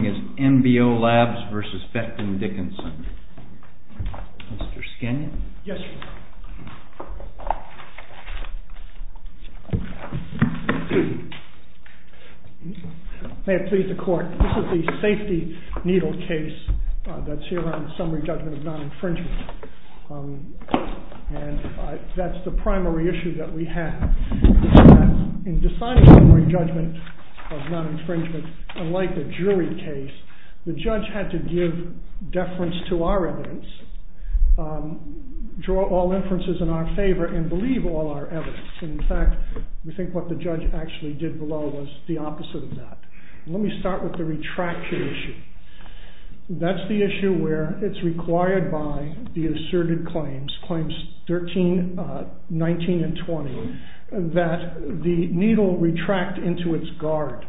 This is the safety needle case that's here on summary judgment of non-infringement. That's the primary issue that we have. In deciding summary judgment of non-infringement, unlike the jury, it's the jury that has the final say. In this case, the judge had to give deference to our evidence, draw all inferences in our favor, and believe all our evidence. In fact, we think what the judge actually did below was the opposite of that. Let me start with the retraction issue. That's the issue where it's required by the asserted claims, claims 13, 19, and 20, that the needle retract into its guard.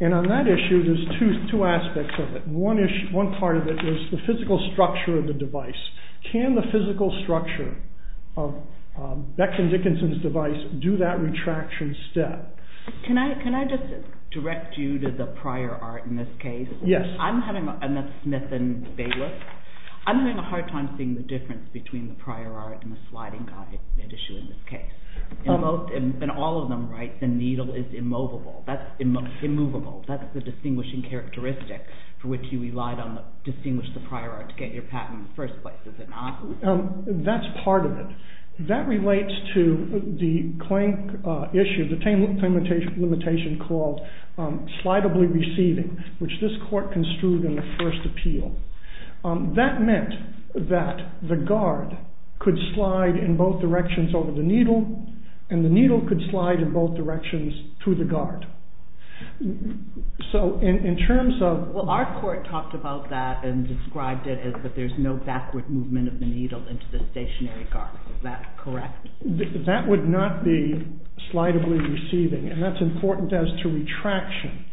And on that issue, there's two aspects of it. One part of it is the physical structure of the device. Can the physical structure of Becton Dickinson's device do that retraction step? Can I just direct you to the prior art in this case? Yes. I'm having a hard time seeing the difference between the prior art and the sliding guide issue in this case. In all of them, the needle is immovable. That's the distinguishing characteristic for which you relied on to distinguish the prior art to get your patent in the first place, is it not? That's part of it. That relates to the claim issue, the claim limitation called slidably receiving, which this court construed in the first appeal. That meant that the guard could slide in both directions over the needle, and the needle could slide in both directions to the guard. Well, our court talked about that and described it as that there's no backward movement of the needle into the stationary guard. Is that correct? That would not be slidably receiving, and that's important as to retraction,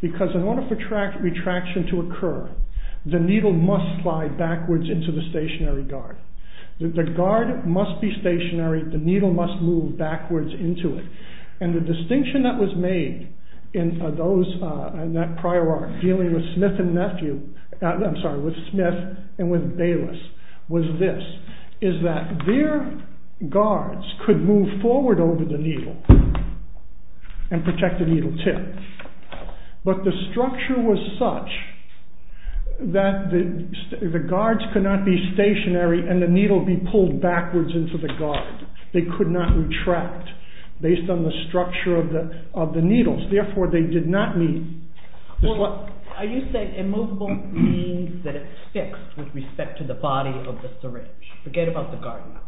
because in order for retraction to occur, the needle must slide backwards into the stationary guard. The guard must be stationary, the needle must move backwards into it. The distinction that was made in that prior art dealing with Smith and Bayless was this, is that their guards could move forward over the needle and protect the needle tip, but the structure was such that the guards could not be stationary and the needle be pulled backwards into the guard. They could not retract based on the structure of the needles, therefore they did not need... Are you saying immovable means that it's fixed with respect to the body of the syringe? Forget about the guard now.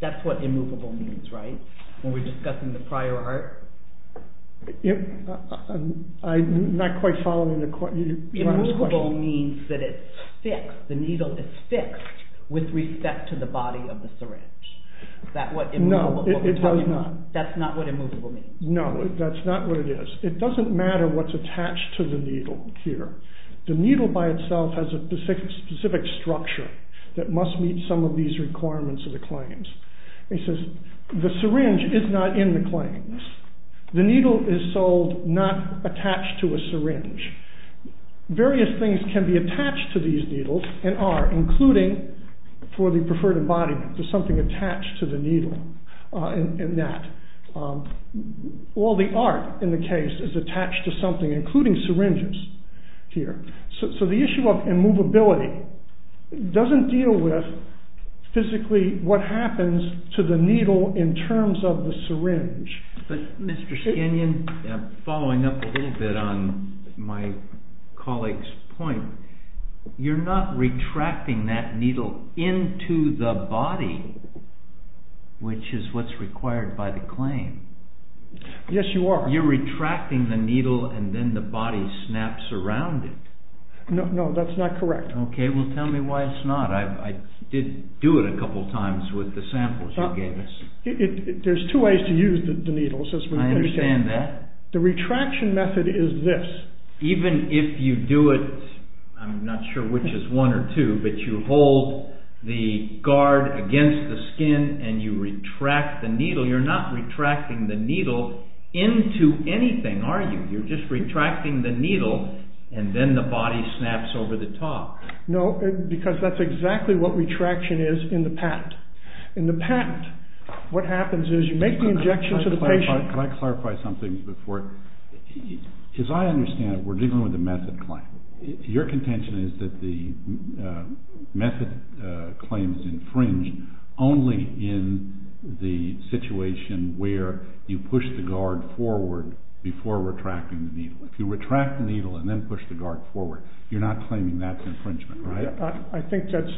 That's what immovable means, right? When we're discussing the prior art? I'm not quite following the court... Immovable means that it's fixed, the needle is fixed with respect to the body of the syringe. No, it does not. That's not what immovable means. No, that's not what it is. It doesn't matter what's attached to the needle here. The needle by itself has a specific structure that must meet some of these requirements of the claims. The syringe is not in the claims. The needle is sold not attached to a syringe. Various things can be attached to these needles and are, including for the preferred embodiment, there's something attached to the needle in that. All the art in the case is attached to something, including syringes here. So the issue of immovability doesn't deal with physically what happens to the needle in terms of the syringe. But Mr. Skinion, following up a little bit on my colleague's point, you're not retracting that needle into the body, which is what's required by the claim. Yes, you are. You're retracting the needle and then the body snaps around it. No, that's not correct. Okay, well tell me why it's not. I did do it a couple times with the samples you gave us. There's two ways to use the needles. I understand that. The retraction method is this. Even if you do it, I'm not sure which is one or two, but you hold the guard against the skin and you retract the needle, you're not retracting the needle into anything, are you? You're just retracting the needle and then the body snaps over the top. No, because that's exactly what retraction is in the patent. In the patent, what happens is you make the injection to the patient. Can I clarify something before? As I understand it, we're dealing with a method claim. Your contention is that the method claims infringe only in the situation where you push the guard forward before retracting the needle. If you retract the needle and then push the guard forward, you're not claiming that's infringement, right? I think that's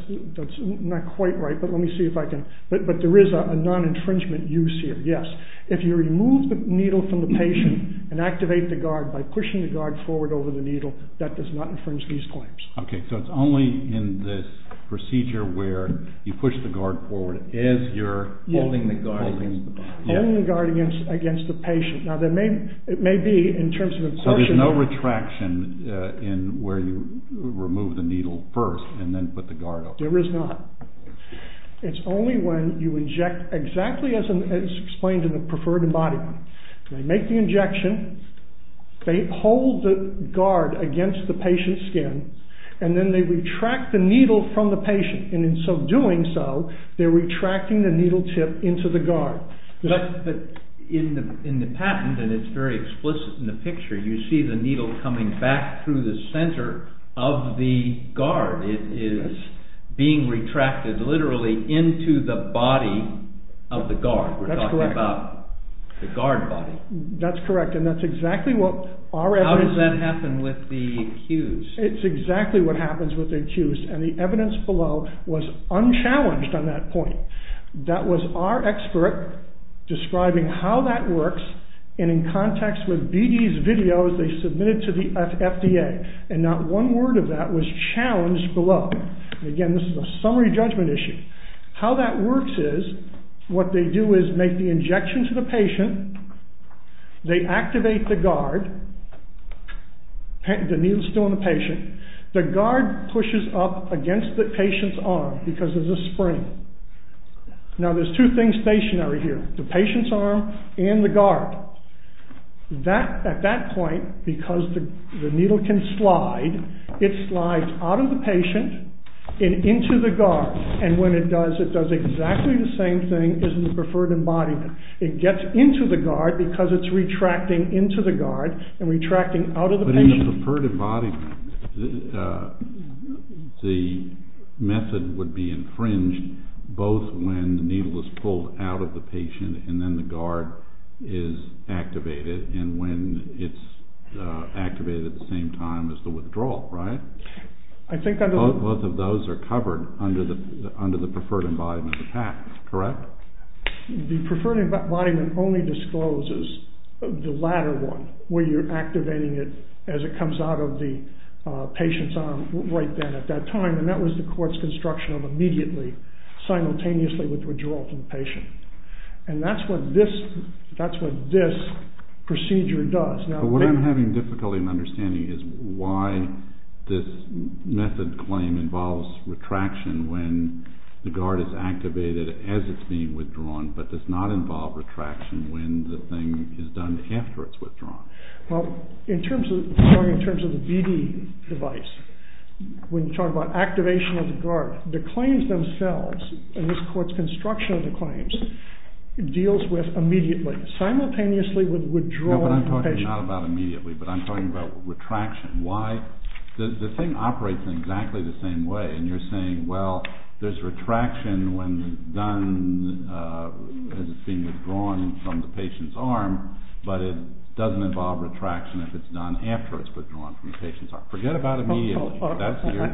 not quite right, but let me see if I can... But there is a non-infringement use here, yes. If you remove the needle from the patient and activate the guard by pushing the guard forward over the needle, that does not infringe these claims. Okay, so it's only in this procedure where you push the guard forward as you're holding the guard against the body. So there's no retraction in where you remove the needle first and then put the guard over? There is not. It's only when you inject exactly as explained in the preferred embodiment. They make the injection, they hold the guard against the patient's skin, and then they retract the needle from the patient. And in doing so, they're retracting the needle tip into the guard. But in the patent, and it's very explicit in the picture, you see the needle coming back through the center of the guard. It is being retracted literally into the body of the guard. That's correct. We're talking about the guard body. That's correct, and that's exactly what our evidence... How does that happen with the accused? It's exactly what happens with the accused, and the evidence below was unchallenged on that point. That was our expert describing how that works, and in context with BD's videos, they submitted to the FDA. And not one word of that was challenged below. Again, this is a summary judgment issue. How that works is, what they do is make the injection to the patient. They activate the guard. The needle's still in the patient. The guard pushes up against the patient's arm because of the spring. Now, there's two things stationary here, the patient's arm and the guard. At that point, because the needle can slide, it slides out of the patient and into the guard. And when it does, it does exactly the same thing as in the preferred embodiment. It gets into the guard because it's retracting into the guard and retracting out of the patient. In the preferred embodiment, the method would be infringed both when the needle is pulled out of the patient and then the guard is activated, and when it's activated at the same time as the withdrawal, right? Both of those are covered under the preferred embodiment of the PAC, correct? The preferred embodiment only discloses the latter one, where you're activating it as it comes out of the patient's arm right then at that time, and that was the court's construction of immediately, simultaneously with withdrawal from the patient. And that's what this procedure does. But what I'm having difficulty in understanding is why this method claim involves retraction when the guard is activated as it's being withdrawn, but does not involve retraction when the thing is done after it's withdrawn. Well, in terms of the BD device, when you talk about activation of the guard, the claims themselves, and this court's construction of the claims, deals with immediately, simultaneously with withdrawal from the patient. Not about immediately, but I'm talking about retraction. The thing operates in exactly the same way, and you're saying, well, there's retraction when it's done as it's being withdrawn from the patient's arm, but it doesn't involve retraction if it's done after it's withdrawn from the patient's arm. Forget about immediately.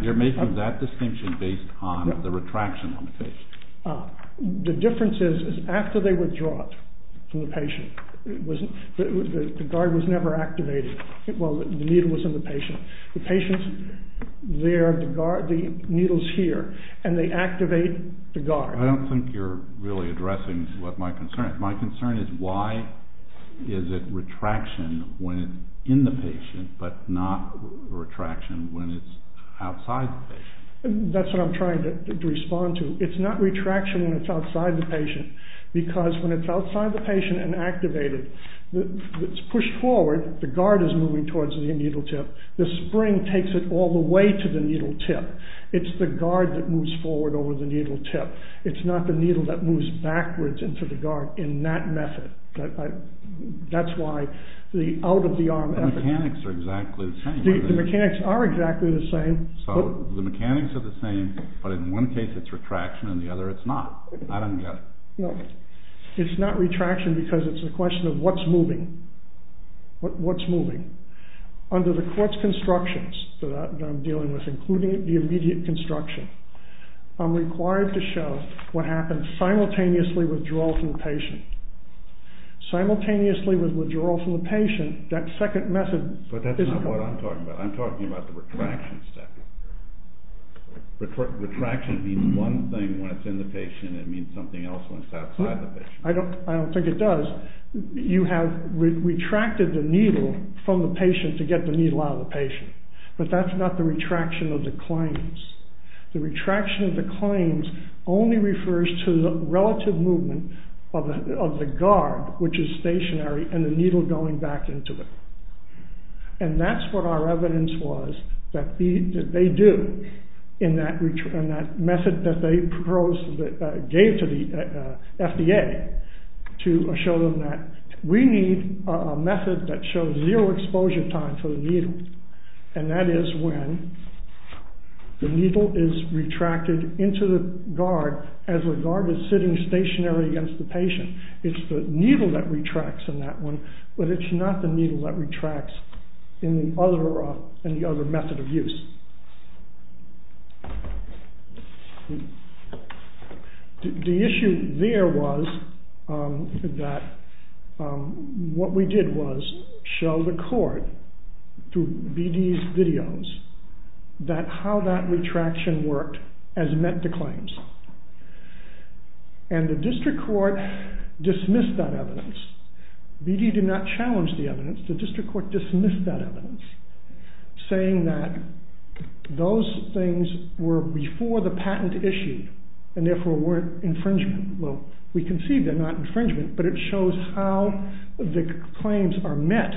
You're making that distinction based on the retraction on the patient. The difference is, is after they withdraw it from the patient, the guard was never activated. Well, the needle was in the patient. The patient's there, the needle's here, and they activate the guard. I don't think you're really addressing what my concern is. My concern is why is it retraction when it's in the patient, but not retraction when it's outside the patient? That's what I'm trying to respond to. It's not retraction when it's outside the patient, because when it's outside the patient and activated, it's pushed forward. The guard is moving towards the needle tip. The spring takes it all the way to the needle tip. It's the guard that moves forward over the needle tip. It's not the needle that moves backwards into the guard in that method. That's why the out-of-the-arm effort… The mechanics are exactly the same. The mechanics are exactly the same. So, the mechanics are the same, but in one case it's retraction and in the other it's not. I don't get it. No, it's not retraction because it's a question of what's moving. What's moving? Under the court's constructions that I'm dealing with, including the immediate construction, I'm required to show what happens simultaneously withdrawal from the patient. Simultaneously with withdrawal from the patient, that second method… But that's not what I'm talking about. I'm talking about the retraction step. Retraction means one thing when it's in the patient and it means something else when it's outside the patient. I don't think it does. You have retracted the needle from the patient to get the needle out of the patient, but that's not the retraction of the claims. The retraction of the claims only refers to the relative movement of the guard, which is stationary, and the needle going back into it. And that's what our evidence was that they do in that method that they gave to the FDA to show them that we need a method that shows zero exposure time for the needle. And that is when the needle is retracted into the guard as the guard is sitting stationary against the patient. It's the needle that retracts in that one, but it's not the needle that retracts in the other method of use. The issue there was that what we did was show the court through BD's videos that how that retraction worked as met the claims. And the district court dismissed that evidence. BD did not challenge the evidence. The district court dismissed that evidence saying that those things were before the patent issued and therefore weren't infringement. Well, we can see they're not infringement, but it shows how the claims are met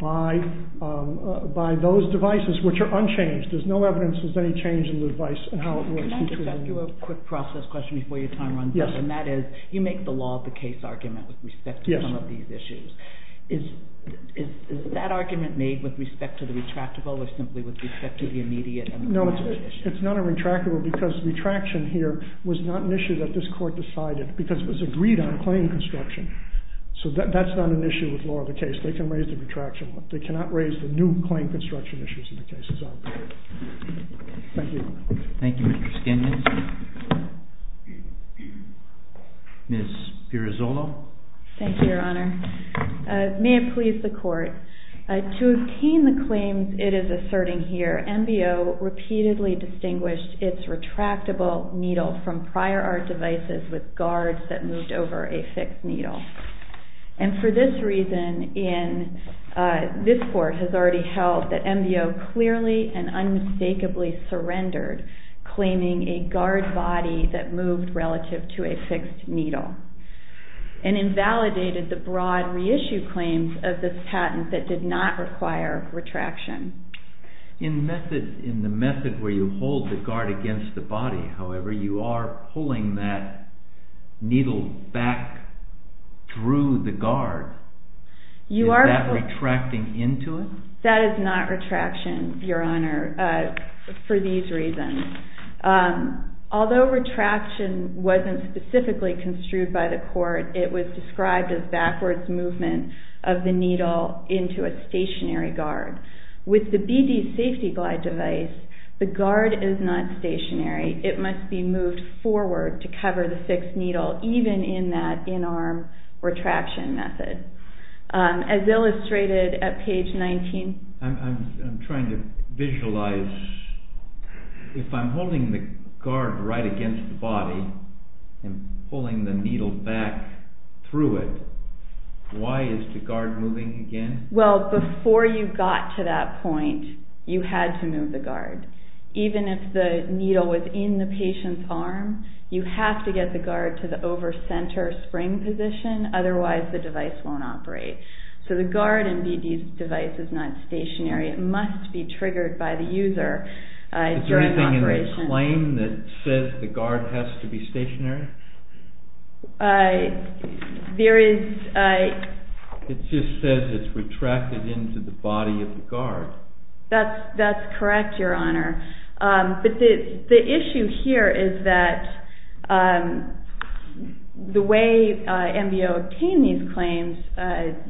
by those devices, which are unchanged. There's no evidence there's any change in the device and how it works. Can I just ask you a quick process question before your time runs out? Yes. And that is, you make the law of the case argument with respect to some of these issues. Yes. Is that argument made with respect to the retractable or simply with respect to the immediate? No, it's not a retractable because retraction here was not an issue that this court decided because it was agreed on claim construction. So that's not an issue with law of the case. They can raise the retraction one. They cannot raise the new claim construction issues in the case as well. Thank you. Thank you, Mr. Skindin. Ms. Pirazzolo. Thank you, Your Honor. May it please the court. To obtain the claims it is asserting here, MBO repeatedly distinguished its retractable needle from prior art devices with guards that moved over a fixed needle. And for this reason, this court has already held that MBO clearly and unmistakably surrendered claiming a guard body that moved relative to a fixed needle and invalidated the broad reissue claims of this patent that did not require retraction. In the method where you hold the guard against the body, however, you are pulling that needle back through the guard. Is that retracting into it? That is not retraction, Your Honor, for these reasons. Although retraction wasn't specifically construed by the court, it was described as backwards movement of the needle into a stationary guard. With the BD safety glide device, the guard is not stationary. It must be moved forward to cover the fixed needle, even in that in-arm retraction method. As illustrated at page 19. I'm trying to visualize. If I'm holding the guard right against the body and pulling the needle back through it, why is the guard moving again? Well, before you got to that point, you had to move the guard. Even if the needle was in the patient's arm, you have to get the guard to the over-center spring position, otherwise the device won't operate. So the guard in BD's device is not stationary. It must be triggered by the user during operation. Is there anything in the claim that says the guard has to be stationary? There is. It just says it's retracted into the body of the guard. That's correct, Your Honor. But the issue here is that the way MBO obtained these claims,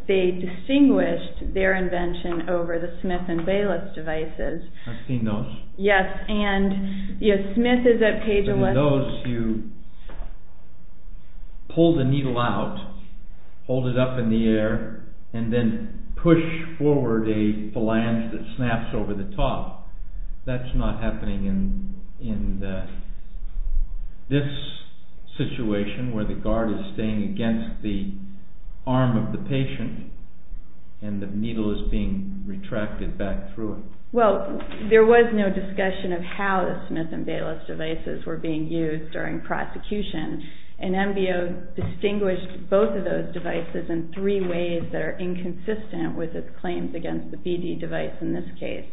they distinguished their invention over the Smith and Bayless devices. I've seen those. Yes, and Smith is at page 11. In those, you pull the needle out, hold it up in the air, and then push forward a phalange that snaps over the top. That's not happening in this situation where the guard is staying against the arm of the patient and the needle is being retracted back through it. Well, there was no discussion of how the Smith and Bayless devices were being used during prosecution, and MBO distinguished both of those devices in three ways that are inconsistent with its claims against the BD device in this case.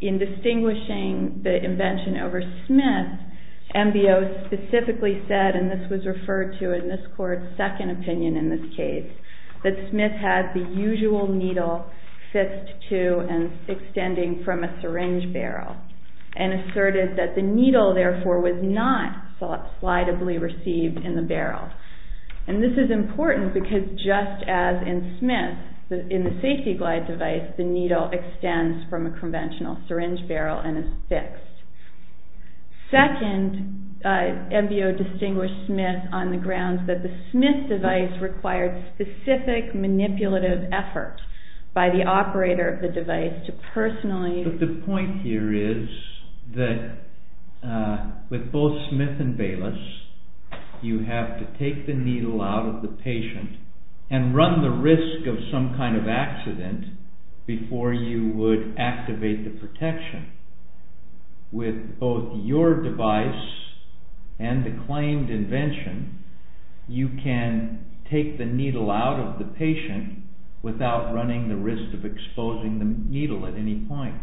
In distinguishing the invention over Smith, MBO specifically said, and this was referred to in this court's second opinion in this case, that Smith had the usual needle fist to and extending from a syringe barrel and asserted that the needle, therefore, was not slideably received in the barrel. And this is important because just as in Smith, in the safety glide device, the needle extends from a conventional syringe barrel and is fixed. Second, MBO distinguished Smith on the grounds that the Smith device required specific manipulative efforts by the operator of the device to personally The point here is that with both Smith and Bayless, you have to take the needle out of the patient and run the risk of some kind of accident before you would activate the protection. With both your device and the claimed invention, without running the risk of exposing the needle at any point.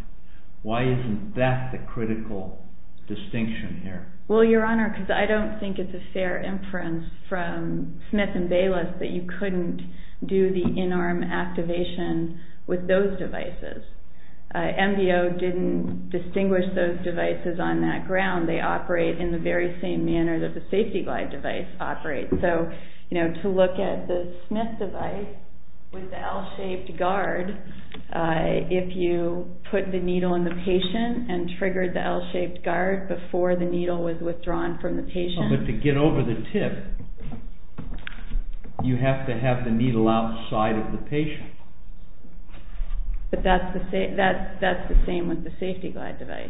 Why isn't that the critical distinction here? Well, Your Honor, because I don't think it's a fair inference from Smith and Bayless that you couldn't do the in-arm activation with those devices. MBO didn't distinguish those devices on that ground. They operate in the very same manner that the safety glide device operates. So, to look at the Smith device with the L-shaped guard, if you put the needle in the patient and triggered the L-shaped guard before the needle was withdrawn from the patient. But to get over the tip, you have to have the needle outside of the patient. But that's the same with the safety glide device.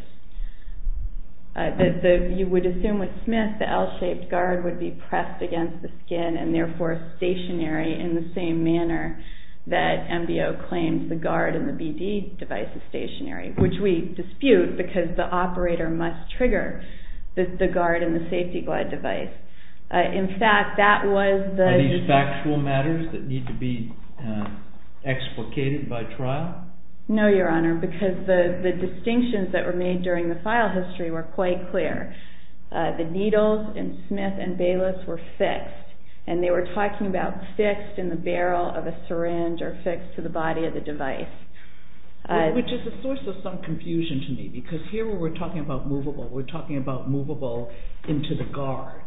You would assume with Smith, the L-shaped guard would be pressed against the skin and therefore stationary in the same manner that MBO claims the guard in the BD device is stationary. Which we dispute because the operator must trigger the guard in the safety glide device. In fact, that was the... Are these factual matters that need to be explicated by trial? No, Your Honor. Because the distinctions that were made during the file history were quite clear. The needles in Smith and Bayless were fixed. And they were talking about fixed in the barrel of a syringe or fixed to the body of the device. Which is a source of some confusion to me. Because here we're talking about movable. We're talking about movable into the guard.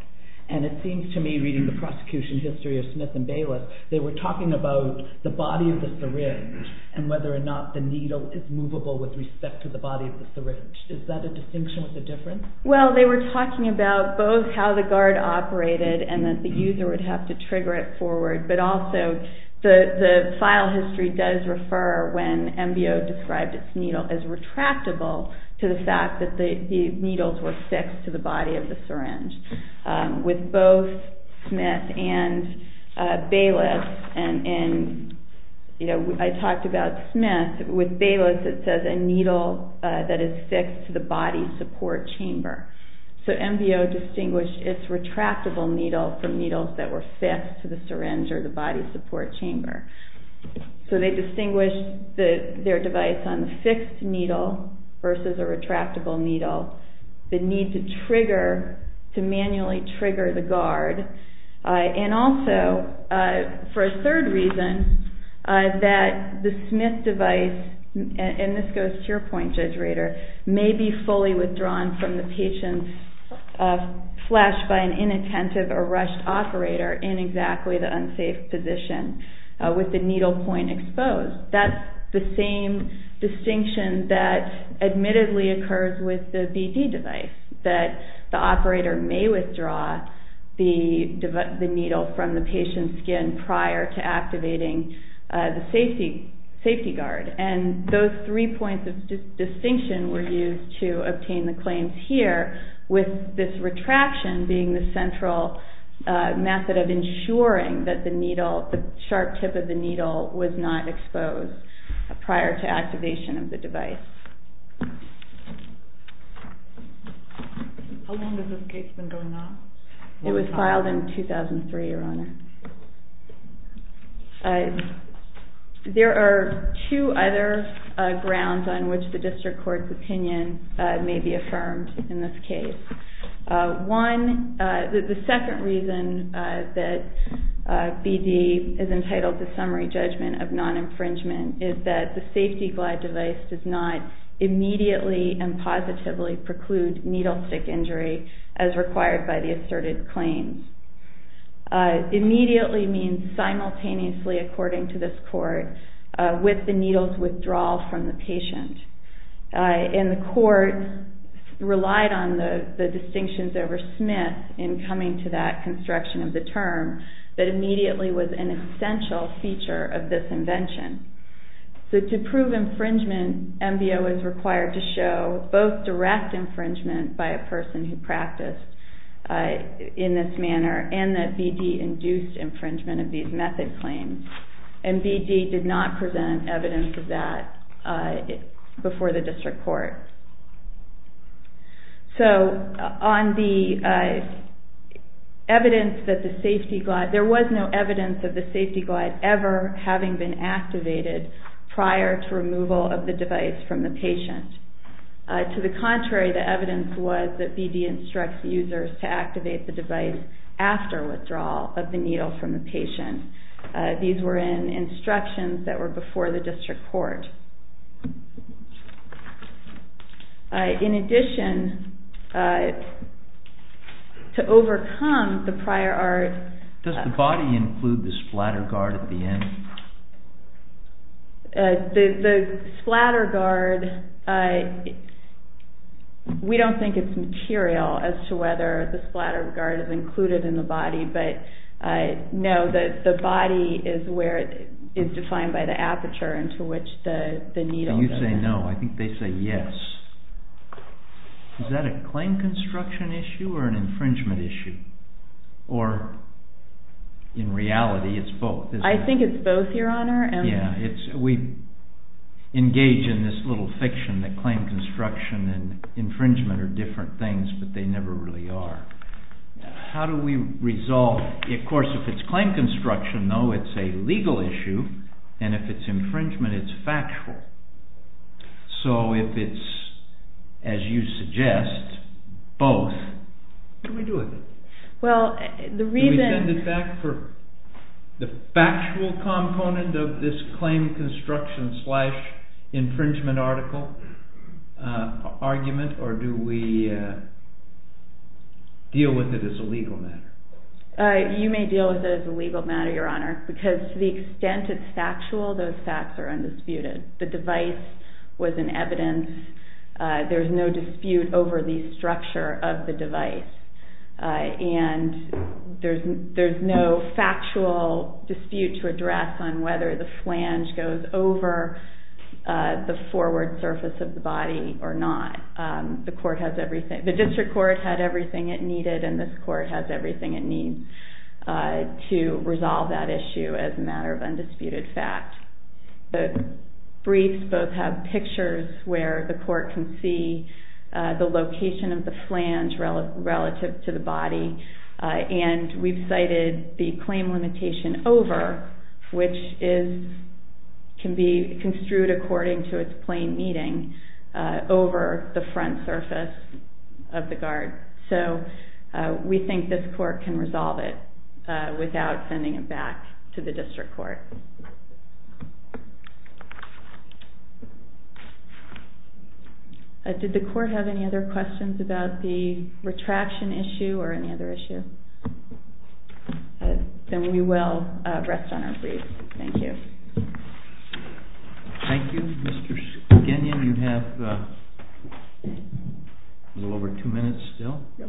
And it seems to me, reading the prosecution history of Smith and Bayless, they were talking about the body of the syringe and whether or not the needle is movable with respect to the body of the syringe. Is that a distinction with a difference? Well, they were talking about both how the guard operated and that the user would have to trigger it forward. But also, the file history does refer, when MBO described its needle, as retractable to the fact that the needles were fixed to the body of the syringe. With both Smith and Bayless, and I talked about Smith, with Bayless it says a needle that is fixed to the body support chamber. So MBO distinguished its retractable needle from needles that were fixed to the syringe or the body support chamber. So they distinguished their device on the fixed needle versus a retractable needle. The need to manually trigger the guard. And also, for a third reason, that the Smith device, and this goes to your point, Judge Rader, may be fully withdrawn from the patient's flesh by an inattentive or rushed operator in exactly the unsafe position with the needle point exposed. That's the same distinction that admittedly occurs with the BD device, that the operator may withdraw the needle from the patient's skin prior to activating the safety guard. And those three points of distinction were used to obtain the claims here, with this retraction being the central method of ensuring that the needle, the sharp tip of the needle was not exposed prior to activation of the device. How long has this case been going on? It was filed in 2003, Your Honor. There are two other grounds on which the district court's opinion may be affirmed in this case. One, the second reason that BD is entitled to summary judgment of non-infringement is that the safety glide device does not immediately and positively preclude needle stick injury as required by the asserted claims. Immediately means simultaneously, according to this court, with the needle's withdrawal from the patient. And the court relied on the distinctions over Smith in coming to that construction of the term that immediately was an essential feature of this invention. So to prove infringement, MBO is required to show both direct infringement by a person who practiced in this manner and that BD induced infringement of these method claims. And BD did not present evidence of that before the district court. So on the evidence that the safety glide, there was no evidence of the safety glide ever having been activated prior to removal of the device from the patient. To the contrary, the evidence was that BD instructs users to activate the device after withdrawal of the needle from the patient. These were in instructions that were before the district court. In addition, to overcome the prior art... Does the body include the splatter guard at the end? The splatter guard, we don't think it's material as to whether the splatter guard is included in the body, but no, the body is defined by the aperture into which the needle goes. You say no, I think they say yes. Is that a claim construction issue or an infringement issue? Or in reality, it's both, isn't it? I think it's both, Your Honor. We engage in this little fiction that claim construction and infringement are different things, but they never really are. How do we resolve... Of course, if it's claim construction, though, it's a legal issue, and if it's infringement, it's factual. So if it's, as you suggest, both, what do we do with it? Do we send it back for the factual component of this claim construction slash infringement article argument, or do we deal with it as a legal matter? You may deal with it as a legal matter, Your Honor, because to the extent it's factual, those facts are undisputed. The device was an evidence. There's no dispute over the structure of the device. And there's no factual dispute to address on whether the flange goes over the forward surface of the body or not. The district court had everything it needed, and this court has everything it needs to resolve that issue as a matter of undisputed fact. The briefs both have pictures where the court can see the location of the flange relative to the body, and we've cited the claim limitation over, which can be construed according to its plain meaning, over the front surface of the guard. So we think this court can resolve it without sending it back to the district court. Did the court have any other questions about the retraction issue or any other issue? Then we will rest on our briefs. Thank you. Thank you. Mr. Skinion, you have a little over two minutes still. Yep.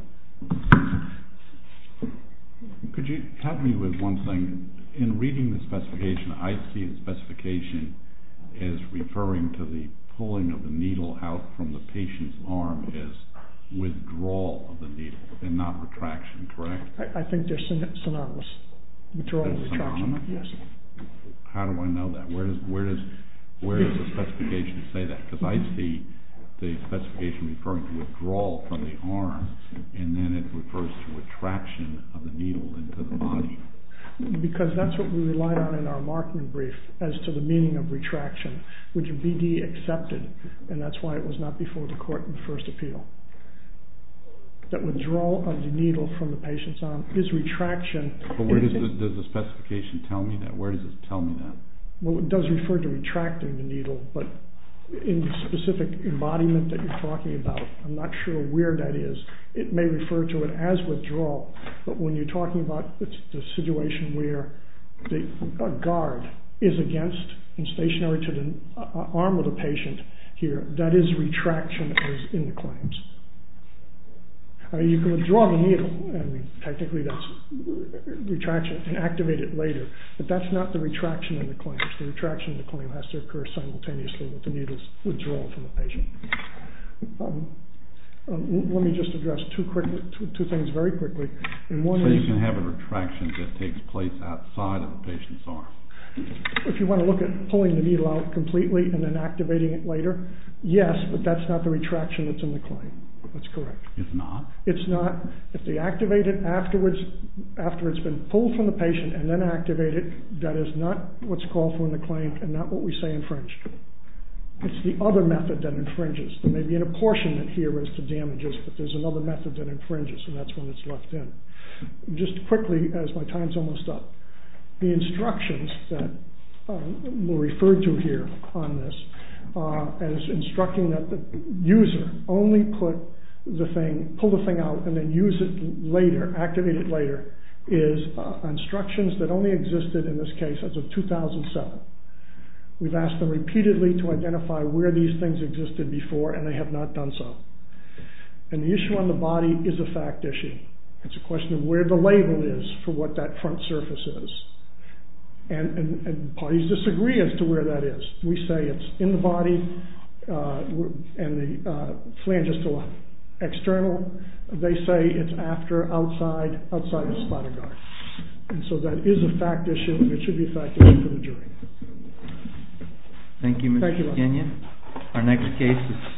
Could you help me with one thing? In reading the specification, I see the specification as referring to the pulling of the needle out from the patient's arm as withdrawal of the needle and not retraction, correct? I think they're synonymous. Withdrawal and retraction, yes. How do I know that? Where does the specification say that? Because I see the specification referring to withdrawal from the arm, and then it refers to retraction of the needle into the body. Because that's what we relied on in our marking brief as to the meaning of retraction, which BD accepted, and that's why it was not before the court in the first appeal. That withdrawal of the needle from the patient's arm is retraction. But where does the specification tell me that? Where does it tell me that? Well, it does refer to retracting the needle, but in the specific embodiment that you're talking about, I'm not sure where that is. It may refer to it as withdrawal, but when you're talking about the situation where a guard is against and stationary to the arm of the patient here, that is retraction as in the claims. You can withdraw the needle, and technically that's retraction, and activate it later, but that's not the retraction in the claims. The retraction in the claim has to occur simultaneously with the needle's withdrawal from the patient. Let me just address two things very quickly. So you can have a retraction that takes place outside of the patient's arm? If you want to look at pulling the needle out completely and then activating it later, yes, but that's not the retraction that's in the claim. That's correct. It's not? It's not. If they activate it after it's been pulled from the patient and then activate it, that is not what's called for in the claim and not what we say infringed. It's the other method that infringes. There may be an apportionment here as to damages, but there's another method that infringes, and that's when it's left in. Just quickly, as my time's almost up, the instructions that were referred to here on this as instructing that the user only pull the thing out and then use it later, activate it later, is instructions that only existed in this case as of 2007. We've asked them repeatedly to identify where these things existed before, and they have not done so. And the issue on the body is a fact issue. It's a question of where the label is for what that front surface is, and parties disagree as to where that is. We say it's in the body and the phalangistal external. They say it's after, outside, outside the splatter guard, and so that is a fact issue, and it should be a fact issue for the jury. Thank you. Our next case is...